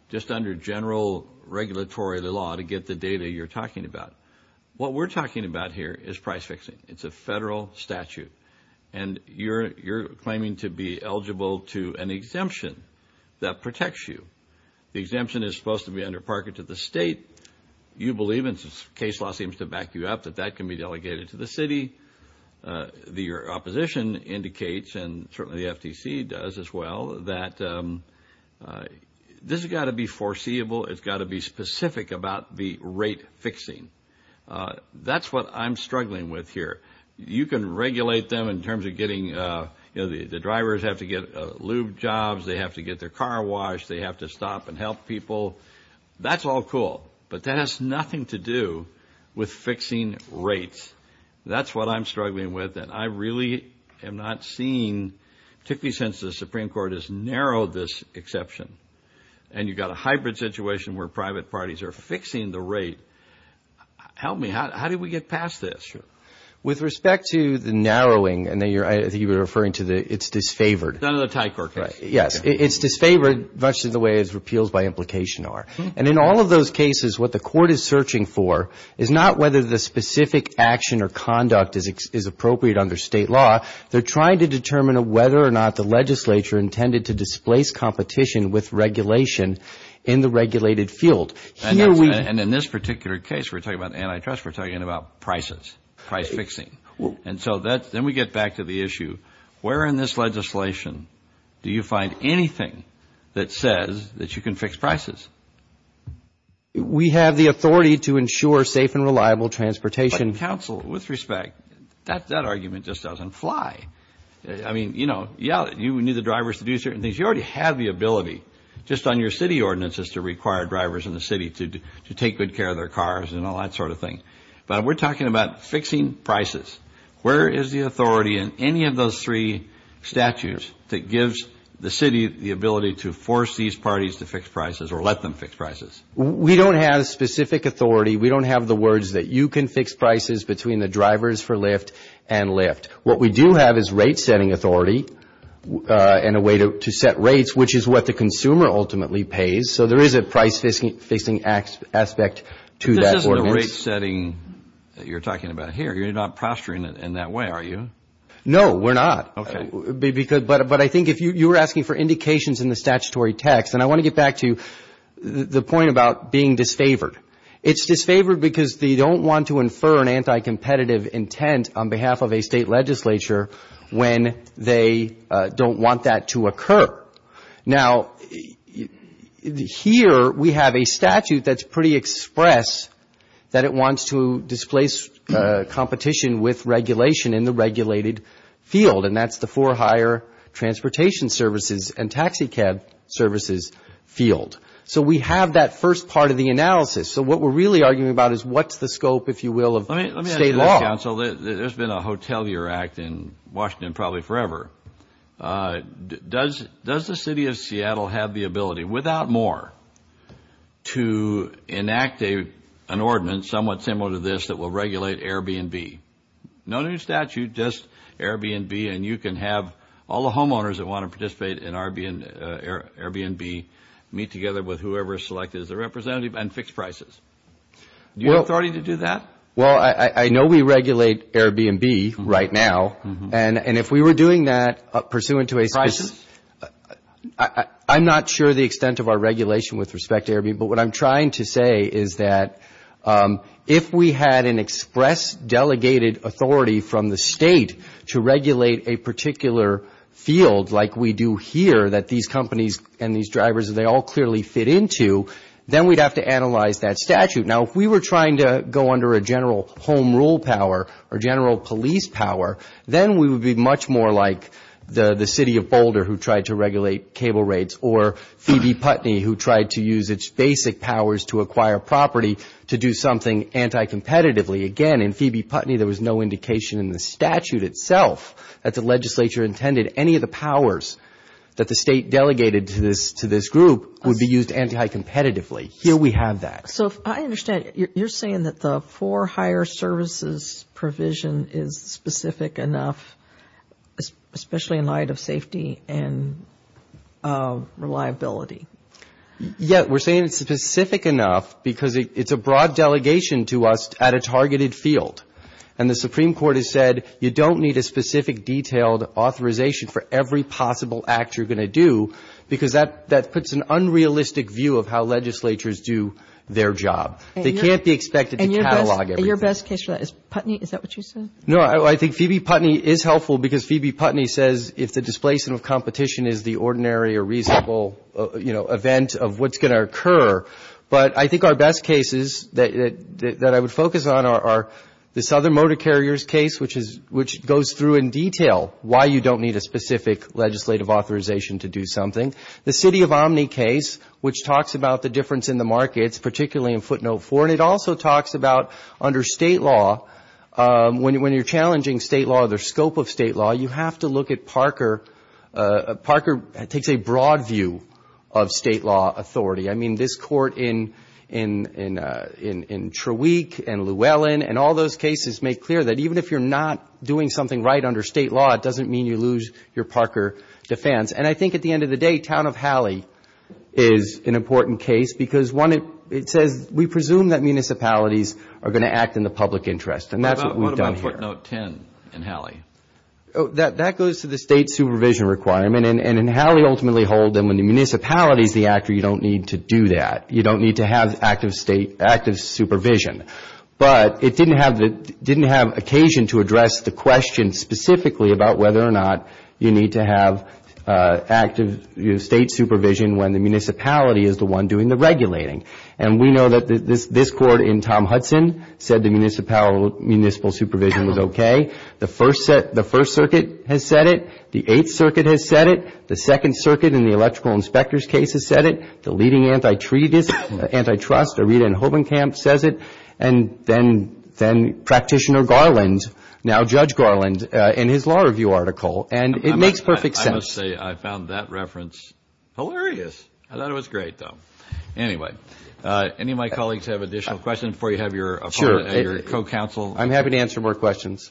just under general regulatory law, to get the data you're talking about. What we're talking about here is price fixing. It's a federal statute. And you're claiming to be eligible to an exemption that protects you. The exemption is supposed to be under parking to the state. You believe, and case law seems to back you up, that that can be delegated to the city. Your opposition indicates, and certainly the FTC does as well, that this has got to be foreseeable. It's got to be specific about the rate fixing. That's what I'm struggling with here. You can regulate them in terms of getting, you know, the drivers have to get lube jobs. They have to get their car washed. They have to stop and help people. That's all cool. But that has nothing to do with fixing rates. That's what I'm struggling with. And I really am not seeing, particularly since the Supreme Court has narrowed this exception, and you've got a hybrid situation where private parties are fixing the rate. Help me. How do we get past this? With respect to the narrowing, and I think you were referring to the it's disfavored. None of the Thai court cases. Yes. It's disfavored much in the way as repeals by implication are. And in all of those cases, what the court is searching for is not whether the specific action or conduct is appropriate under state law. They're trying to determine whether or not the legislature intended to displace competition with regulation in the regulated field. And in this particular case, we're talking about antitrust. We're talking about prices, price fixing. And so then we get back to the issue, where in this legislation do you find anything that says that you can fix prices? We have the authority to ensure safe and reliable transportation. But counsel, with respect, that argument just doesn't fly. I mean, you know, yeah, you need the drivers to do certain things. You already have the ability just on your city ordinances to require drivers in the city to take good care of their cars and all that sort of thing. But we're talking about fixing prices. Where is the authority in any of those three statutes that gives the city the ability to force these parties to fix prices or let them fix prices? We don't have a specific authority. We don't have the words that you can fix prices between the drivers for Lyft and Lyft. What we do have is rate-setting authority and a way to set rates, which is what the consumer ultimately pays. So there is a price-fixing aspect to that ordinance. But this isn't a rate-setting that you're talking about here. You're not posturing it in that way, are you? No, we're not. Okay. But I think if you were asking for indications in the statutory text, and I want to get back to the point about being disfavored. It's disfavored because they don't want to infer an anti-competitive intent on behalf of a state legislature when they don't want that to occur. Now, here we have a statute that's pretty express that it wants to displace competition with regulation in the regulated field, and that's the four higher transportation services and taxicab services field. So we have that first part of the analysis. So what we're really arguing about is what's the scope, if you will, of state law. Let me ask you this, counsel. There's been a Hotelier Act in Washington probably forever. Does the city of Seattle have the ability, without more, to enact an ordinance somewhat similar to this that will regulate Airbnb? No new statute, just Airbnb, and you can have all the homeowners that want to participate in Airbnb meet together with whoever is selected as a representative and fix prices. Do you have authority to do that? Well, I know we regulate Airbnb right now, and if we were doing that pursuant to a specific – Prices? But what I'm trying to say is that if we had an express delegated authority from the state to regulate a particular field like we do here, that these companies and these drivers, they all clearly fit into, then we'd have to analyze that statute. Now, if we were trying to go under a general home rule power or general police power, then we would be much more like the city of Boulder who tried to regulate cable rates or Phoebe Putney who tried to use its basic powers to acquire property to do something anti-competitively. Again, in Phoebe Putney, there was no indication in the statute itself that the legislature intended any of the powers that the state delegated to this group would be used anti-competitively. Here we have that. So I understand you're saying that the for hire services provision is specific enough, especially in light of safety and reliability. Yeah, we're saying it's specific enough because it's a broad delegation to us at a targeted field. And the Supreme Court has said you don't need a specific detailed authorization for every possible act you're going to do because that puts an unrealistic view of how legislatures do their job. They can't be expected to catalog everything. And your best case for that is Putney? Is that what you said? No, I think Phoebe Putney is helpful because Phoebe Putney says if the displacement of competition is the ordinary or reasonable, you know, event of what's going to occur. But I think our best cases that I would focus on are the Southern Motor Carriers case, which goes through in detail why you don't need a specific legislative authorization to do something. The City of Omni case, which talks about the difference in the markets, particularly in footnote four. And it also talks about under state law, when you're challenging state law or the scope of state law, you have to look at Parker. Parker takes a broad view of state law authority. I mean, this court in Treweek and Llewellyn and all those cases make clear that even if you're not doing something right under state law, it doesn't mean you lose your Parker defense. And I think at the end of the day, Town of Hallie is an important case because, one, it says we presume that municipalities are going to act in the public interest. And that's what we've done here. What about footnote 10 in Hallie? That goes to the state supervision requirement. And in Hallie, ultimately, when the municipality is the actor, you don't need to do that. You don't need to have active supervision. But it didn't have occasion to address the question specifically about whether or not you need to have active state supervision when the municipality is the one doing the regulating. And we know that this court in Tom Hudson said the municipal supervision was okay. The First Circuit has said it. The Eighth Circuit has said it. The Second Circuit in the Electrical Inspectors case has said it. The leading antitrust, Arita and Hobenkamp, says it. And then Practitioner Garland, now Judge Garland, in his law review article. And it makes perfect sense. I must say I found that reference hilarious. I thought it was great, though. Anyway, any of my colleagues have additional questions before you have your co-counsel? I'm happy to answer more questions.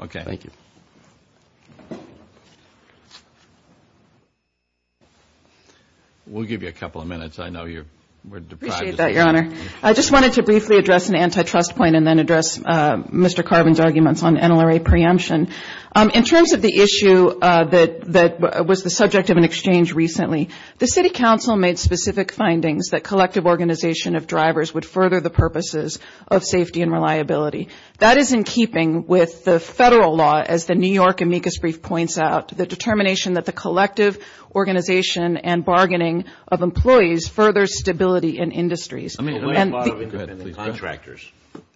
Okay. Thank you. We'll give you a couple of minutes. I know you're deprived. I appreciate that, Your Honor. I just wanted to briefly address an antitrust point and then address Mr. Carvin's arguments on NLRA preemption. In terms of the issue that was the subject of an exchange recently, the City Council made specific findings that collective organization of drivers would further the purposes of safety and reliability. That is in keeping with the federal law, as the New York amicus brief points out, the determination that the collective organization and bargaining of employees furthers stability in industries. I mean, what about independent contractors?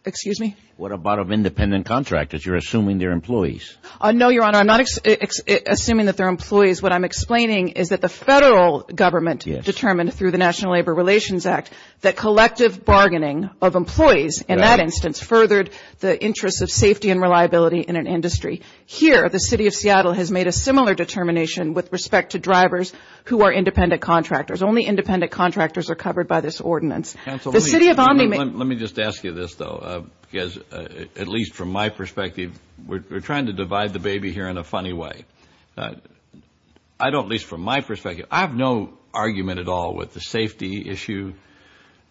Excuse me? What about independent contractors? You're assuming they're employees. No, Your Honor. I'm not assuming that they're employees. What I'm explaining is that the federal government determined through the National Labor Relations Act that collective bargaining of employees in that instance furthered the interests of safety and reliability in an industry. Here, the City of Seattle has made a similar determination with respect to drivers who are independent contractors. Only independent contractors are covered by this ordinance. Counsel, let me just ask you this, though, because at least from my perspective, we're trying to divide the baby here in a funny way. At least from my perspective, I have no argument at all with the safety issue,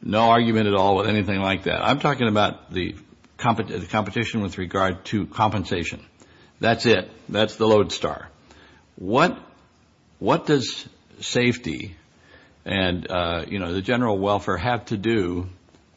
no argument at all with anything like that. I'm talking about the competition with regard to compensation. That's it. That's the lodestar. What does safety and the general welfare have to do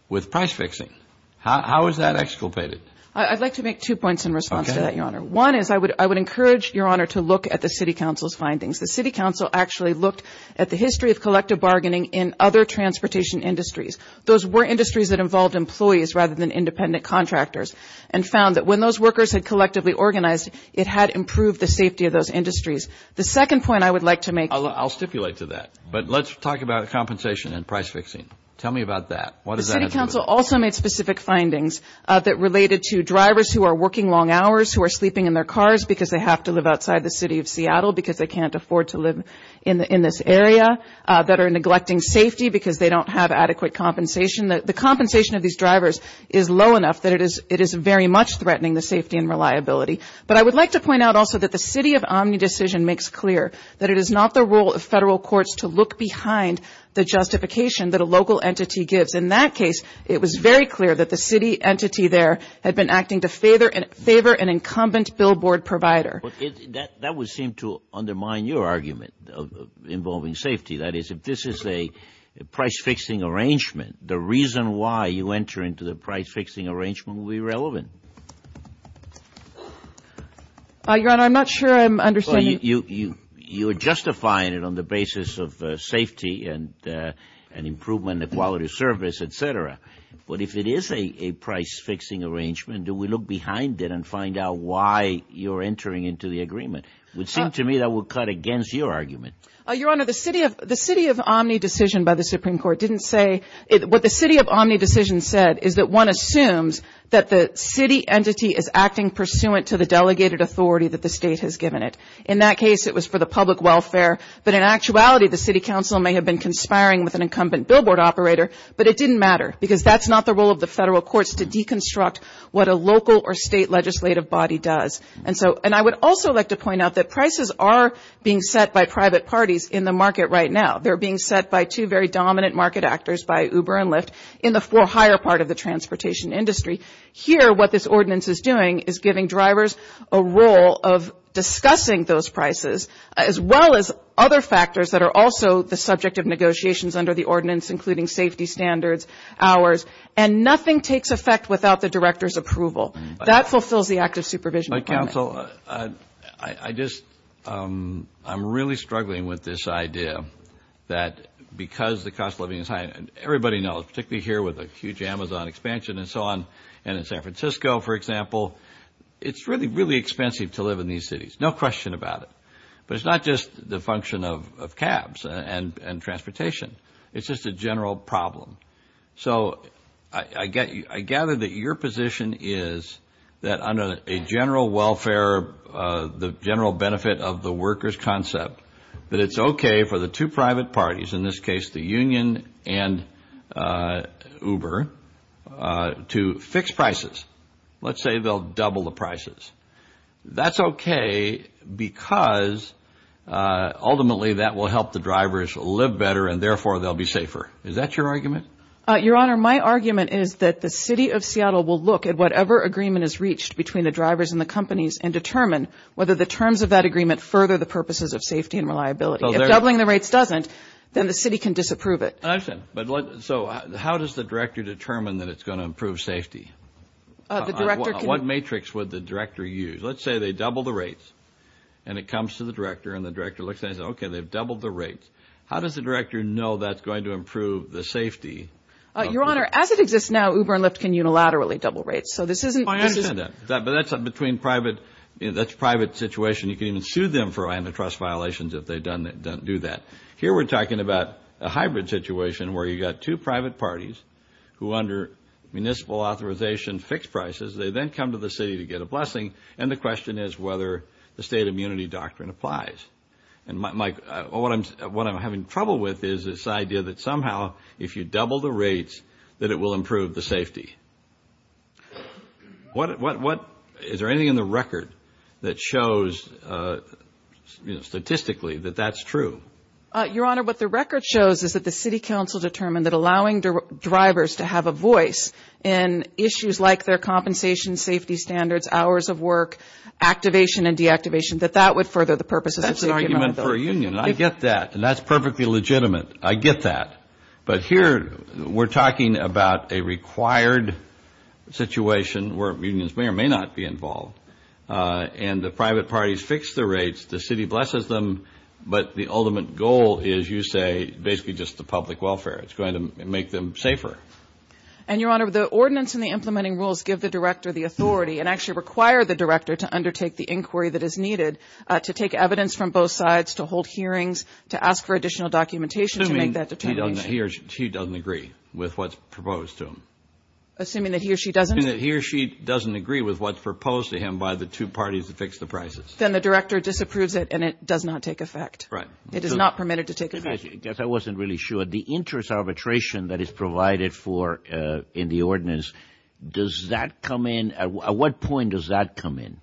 with price fixing? How is that exculpated? I'd like to make two points in response to that, Your Honor. One is I would encourage, Your Honor, to look at the City Council's findings. The City Council actually looked at the history of collective bargaining in other transportation industries. Those were industries that involved employees rather than independent contractors and found that when those workers had collectively organized, it had improved the safety of those industries. The second point I would like to make. I'll stipulate to that. But let's talk about compensation and price fixing. Tell me about that. The City Council also made specific findings that related to drivers who are working long hours, who are sleeping in their cars because they have to live outside the city of Seattle because they can't afford to live in this area, that are neglecting safety because they don't have adequate compensation. The compensation of these drivers is low enough that it is very much threatening the safety and reliability. But I would like to point out also that the City of Omni decision makes clear that it is not the role of federal courts to look behind the justification that a local entity gives. In that case, it was very clear that the city entity there had been acting to favor an incumbent billboard provider. That would seem to undermine your argument involving safety. That is, if this is a price-fixing arrangement, the reason why you enter into the price-fixing arrangement would be irrelevant. Your Honor, I'm not sure I'm understanding. You're justifying it on the basis of safety and improvement in the quality of service, et cetera. But if it is a price-fixing arrangement, do we look behind it and find out why you're entering into the agreement? It would seem to me that would cut against your argument. Your Honor, the City of Omni decision by the Supreme Court didn't say – what the City of Omni decision said is that one assumes that the city entity is acting pursuant to the delegated authority that the state has given it. In that case, it was for the public welfare. But in actuality, the City Council may have been conspiring with an incumbent billboard operator, but it didn't matter because that's not the role of the federal courts to deconstruct what a local or state legislative body does. And I would also like to point out that prices are being set by private parties in the market right now. They're being set by two very dominant market actors, by Uber and Lyft, in the far higher part of the transportation industry. Here, what this ordinance is doing is giving drivers a role of discussing those prices, as well as other factors that are also the subject of negotiations under the ordinance, including safety standards, hours. And nothing takes effect without the director's approval. That fulfills the act of supervision. But, counsel, I just – I'm really struggling with this idea that because the cost of living is high – and everybody knows, particularly here with the huge Amazon expansion and so on, and in San Francisco, for example, it's really, really expensive to live in these cities. No question about it. But it's not just the function of cabs and transportation. It's just a general problem. So I gather that your position is that under a general welfare, the general benefit of the workers concept, that it's okay for the two private parties, in this case the union and Uber, to fix prices. Let's say they'll double the prices. That's okay because ultimately that will help the drivers live better and therefore they'll be safer. Is that your argument? Your Honor, my argument is that the City of Seattle will look at whatever agreement is reached between the drivers and the companies and determine whether the terms of that agreement further the purposes of safety and reliability. If doubling the rates doesn't, then the city can disapprove it. I understand. So how does the director determine that it's going to improve safety? What matrix would the director use? Let's say they double the rates and it comes to the director and the director looks at it and says, okay, they've doubled the rates. How does the director know that's going to improve the safety? Your Honor, as it exists now, Uber and Lyft can unilaterally double rates. I understand that, but that's a private situation. You can even sue them for antitrust violations if they do that. Here we're talking about a hybrid situation where you've got two private parties who under municipal authorization fix prices, they then come to the city to get a blessing, and the question is whether the state immunity doctrine applies. What I'm having trouble with is this idea that somehow if you double the rates that it will improve the safety. Is there anything in the record that shows statistically that that's true? Your Honor, what the record shows is that the city council determined that allowing drivers to have a voice in issues like their compensation, safety standards, hours of work, activation and deactivation, that that would further the purposes of safety. That's an argument for a union, and I get that, and that's perfectly legitimate. I get that. But here we're talking about a required situation where unions may or may not be involved, and the private parties fix the rates, the city blesses them, but the ultimate goal is, you say, basically just the public welfare. It's going to make them safer. And, Your Honor, the ordinance and the implementing rules give the director the authority and actually require the director to undertake the inquiry that is needed to take evidence from both sides, to hold hearings, to ask for additional documentation to make that determination. Assuming he or she doesn't agree with what's proposed to him. Assuming that he or she doesn't. Assuming that he or she doesn't agree with what's proposed to him by the two parties to fix the prices. Then the director disapproves it, and it does not take effect. Right. It is not permitted to take effect. I guess I wasn't really sure. But the interest arbitration that is provided for in the ordinance, does that come in? At what point does that come in?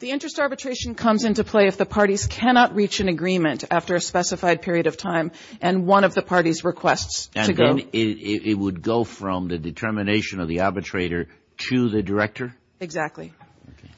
The interest arbitration comes into play if the parties cannot reach an agreement after a specified period of time, and one of the parties requests to go. It would go from the determination of the arbitrator to the director? Exactly.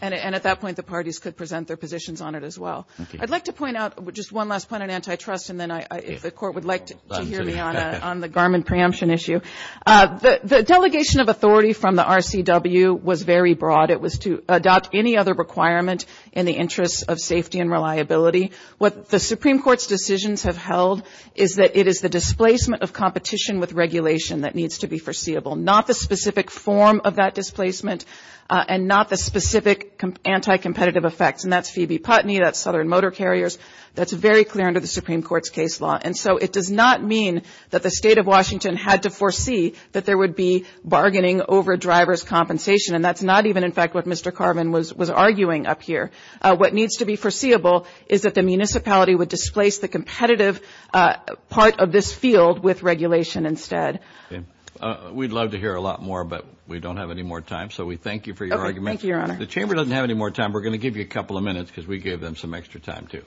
And at that point, the parties could present their positions on it as well. I'd like to point out just one last point on antitrust, and then if the court would like to hear me on the Garmin preemption issue. The delegation of authority from the RCW was very broad. It was to adopt any other requirement in the interest of safety and reliability. What the Supreme Court's decisions have held is that it is the displacement of competition with regulation that needs to be foreseeable. Not the specific form of that displacement, and not the specific anti-competitive effects. And that's Phoebe Putney, that's Southern Motor Carriers. That's very clear under the Supreme Court's case law. And so it does not mean that the State of Washington had to foresee that there would be bargaining over driver's compensation. And that's not even, in fact, what Mr. Garmin was arguing up here. What needs to be foreseeable is that the municipality would displace the competitive part of this field with regulation instead. We'd love to hear a lot more, but we don't have any more time. Thank you, Your Honor. The Chamber doesn't have any more time. We're going to give you a couple of minutes because we gave them some extra time, too.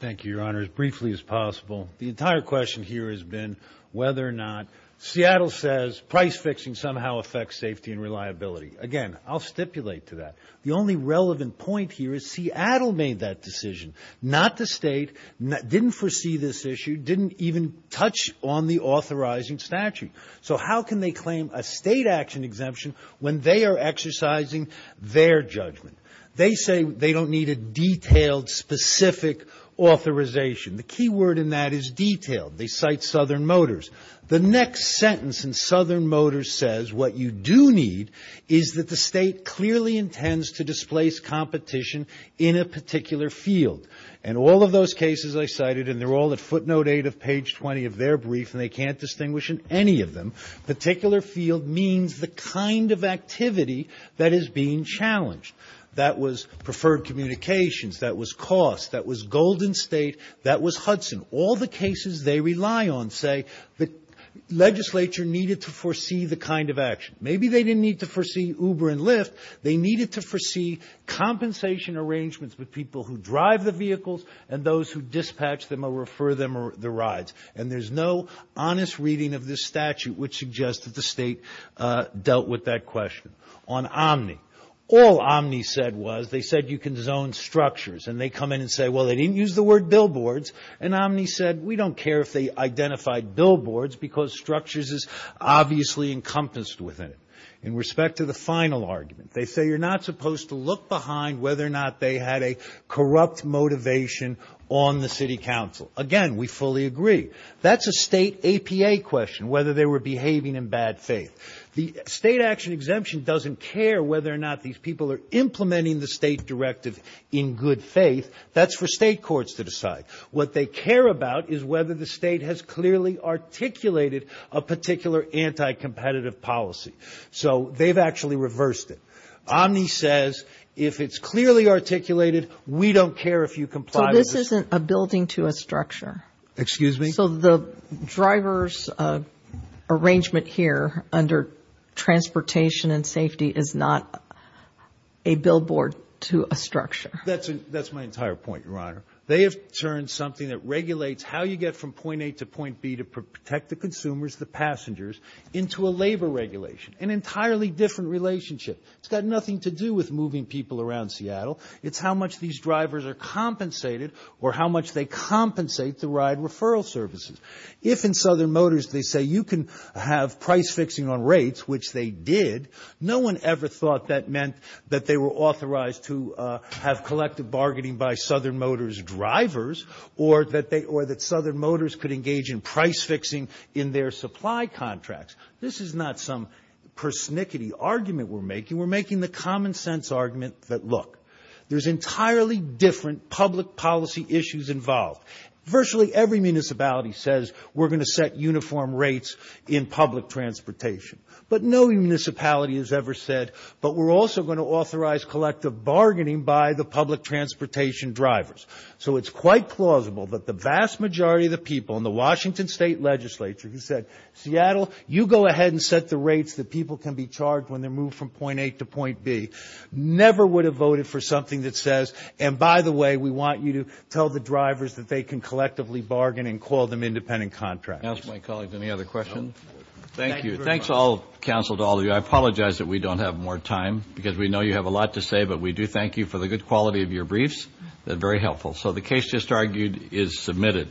Thank you, Your Honor. As briefly as possible, the entire question here has been whether or not Seattle says price fixing somehow affects safety and reliability. Again, I'll stipulate to that. The only relevant point here is Seattle made that decision. Not the State. Didn't foresee this issue. Didn't even touch on the authorizing statute. So how can they claim a State action exemption when they are exercising their judgment? They say they don't need a detailed, specific authorization. The key word in that is detailed. They cite Southern Motors. The next sentence in Southern Motors says what you do need is that the State clearly intends to displace competition in a particular field. And all of those cases I cited, and they're all at footnote 8 of page 20 of their brief, and they can't distinguish in any of them, particular field means the kind of activity that is being challenged. That was preferred communications. That was cost. That was Golden State. That was Hudson. All the cases they rely on say the legislature needed to foresee the kind of action. Maybe they didn't need to foresee Uber and Lyft. They needed to foresee compensation arrangements with people who drive the vehicles and those who dispatch them or refer them the rides. And there's no honest reading of this statute which suggests that the State dealt with that question. On Omni. All Omni said was they said you can zone structures. And they come in and say, well, they didn't use the word billboards. And Omni said we don't care if they identified billboards because structures is obviously encompassed within it. In respect to the final argument, they say you're not supposed to look behind whether or not they had a corrupt motivation on the city council. Again, we fully agree. That's a state APA question, whether they were behaving in bad faith. The state action exemption doesn't care whether or not these people are implementing the state directive in good faith. That's for state courts to decide. What they care about is whether the state has clearly articulated a particular anti-competitive policy. So they've actually reversed it. Omni says if it's clearly articulated, we don't care if you comply. This isn't a building to a structure. Excuse me. So the driver's arrangement here under transportation and safety is not a billboard to a structure. That's my entire point, Your Honor. They have turned something that regulates how you get from point A to point B to protect the consumers, the passengers, into a labor regulation. An entirely different relationship. It's got nothing to do with moving people around Seattle. It's how much these drivers are compensated or how much they compensate the ride referral services. If in Southern Motors they say you can have price fixing on rates, which they did, no one ever thought that meant that they were authorized to have collective bargaining by Southern Motors drivers or that Southern Motors could engage in price fixing in their supply contracts. This is not some persnickety argument we're making. We're making the common sense argument that, look, there's entirely different public policy issues involved. Virtually every municipality says we're going to set uniform rates in public transportation. But no municipality has ever said, but we're also going to authorize collective bargaining by the public transportation drivers. So it's quite plausible that the vast majority of the people in the Washington State Legislature who said, Seattle, you go ahead and set the rates that people can be charged when they move from point A to point B, never would have voted for something that says, and by the way, we want you to tell the drivers that they can collectively bargain and call them independent contractors. Any other questions? Thank you. Thanks, counsel, to all of you. I apologize that we don't have more time because we know you have a lot to say, but we do thank you for the good quality of your briefs. They're very helpful. So the case just argued is submitted.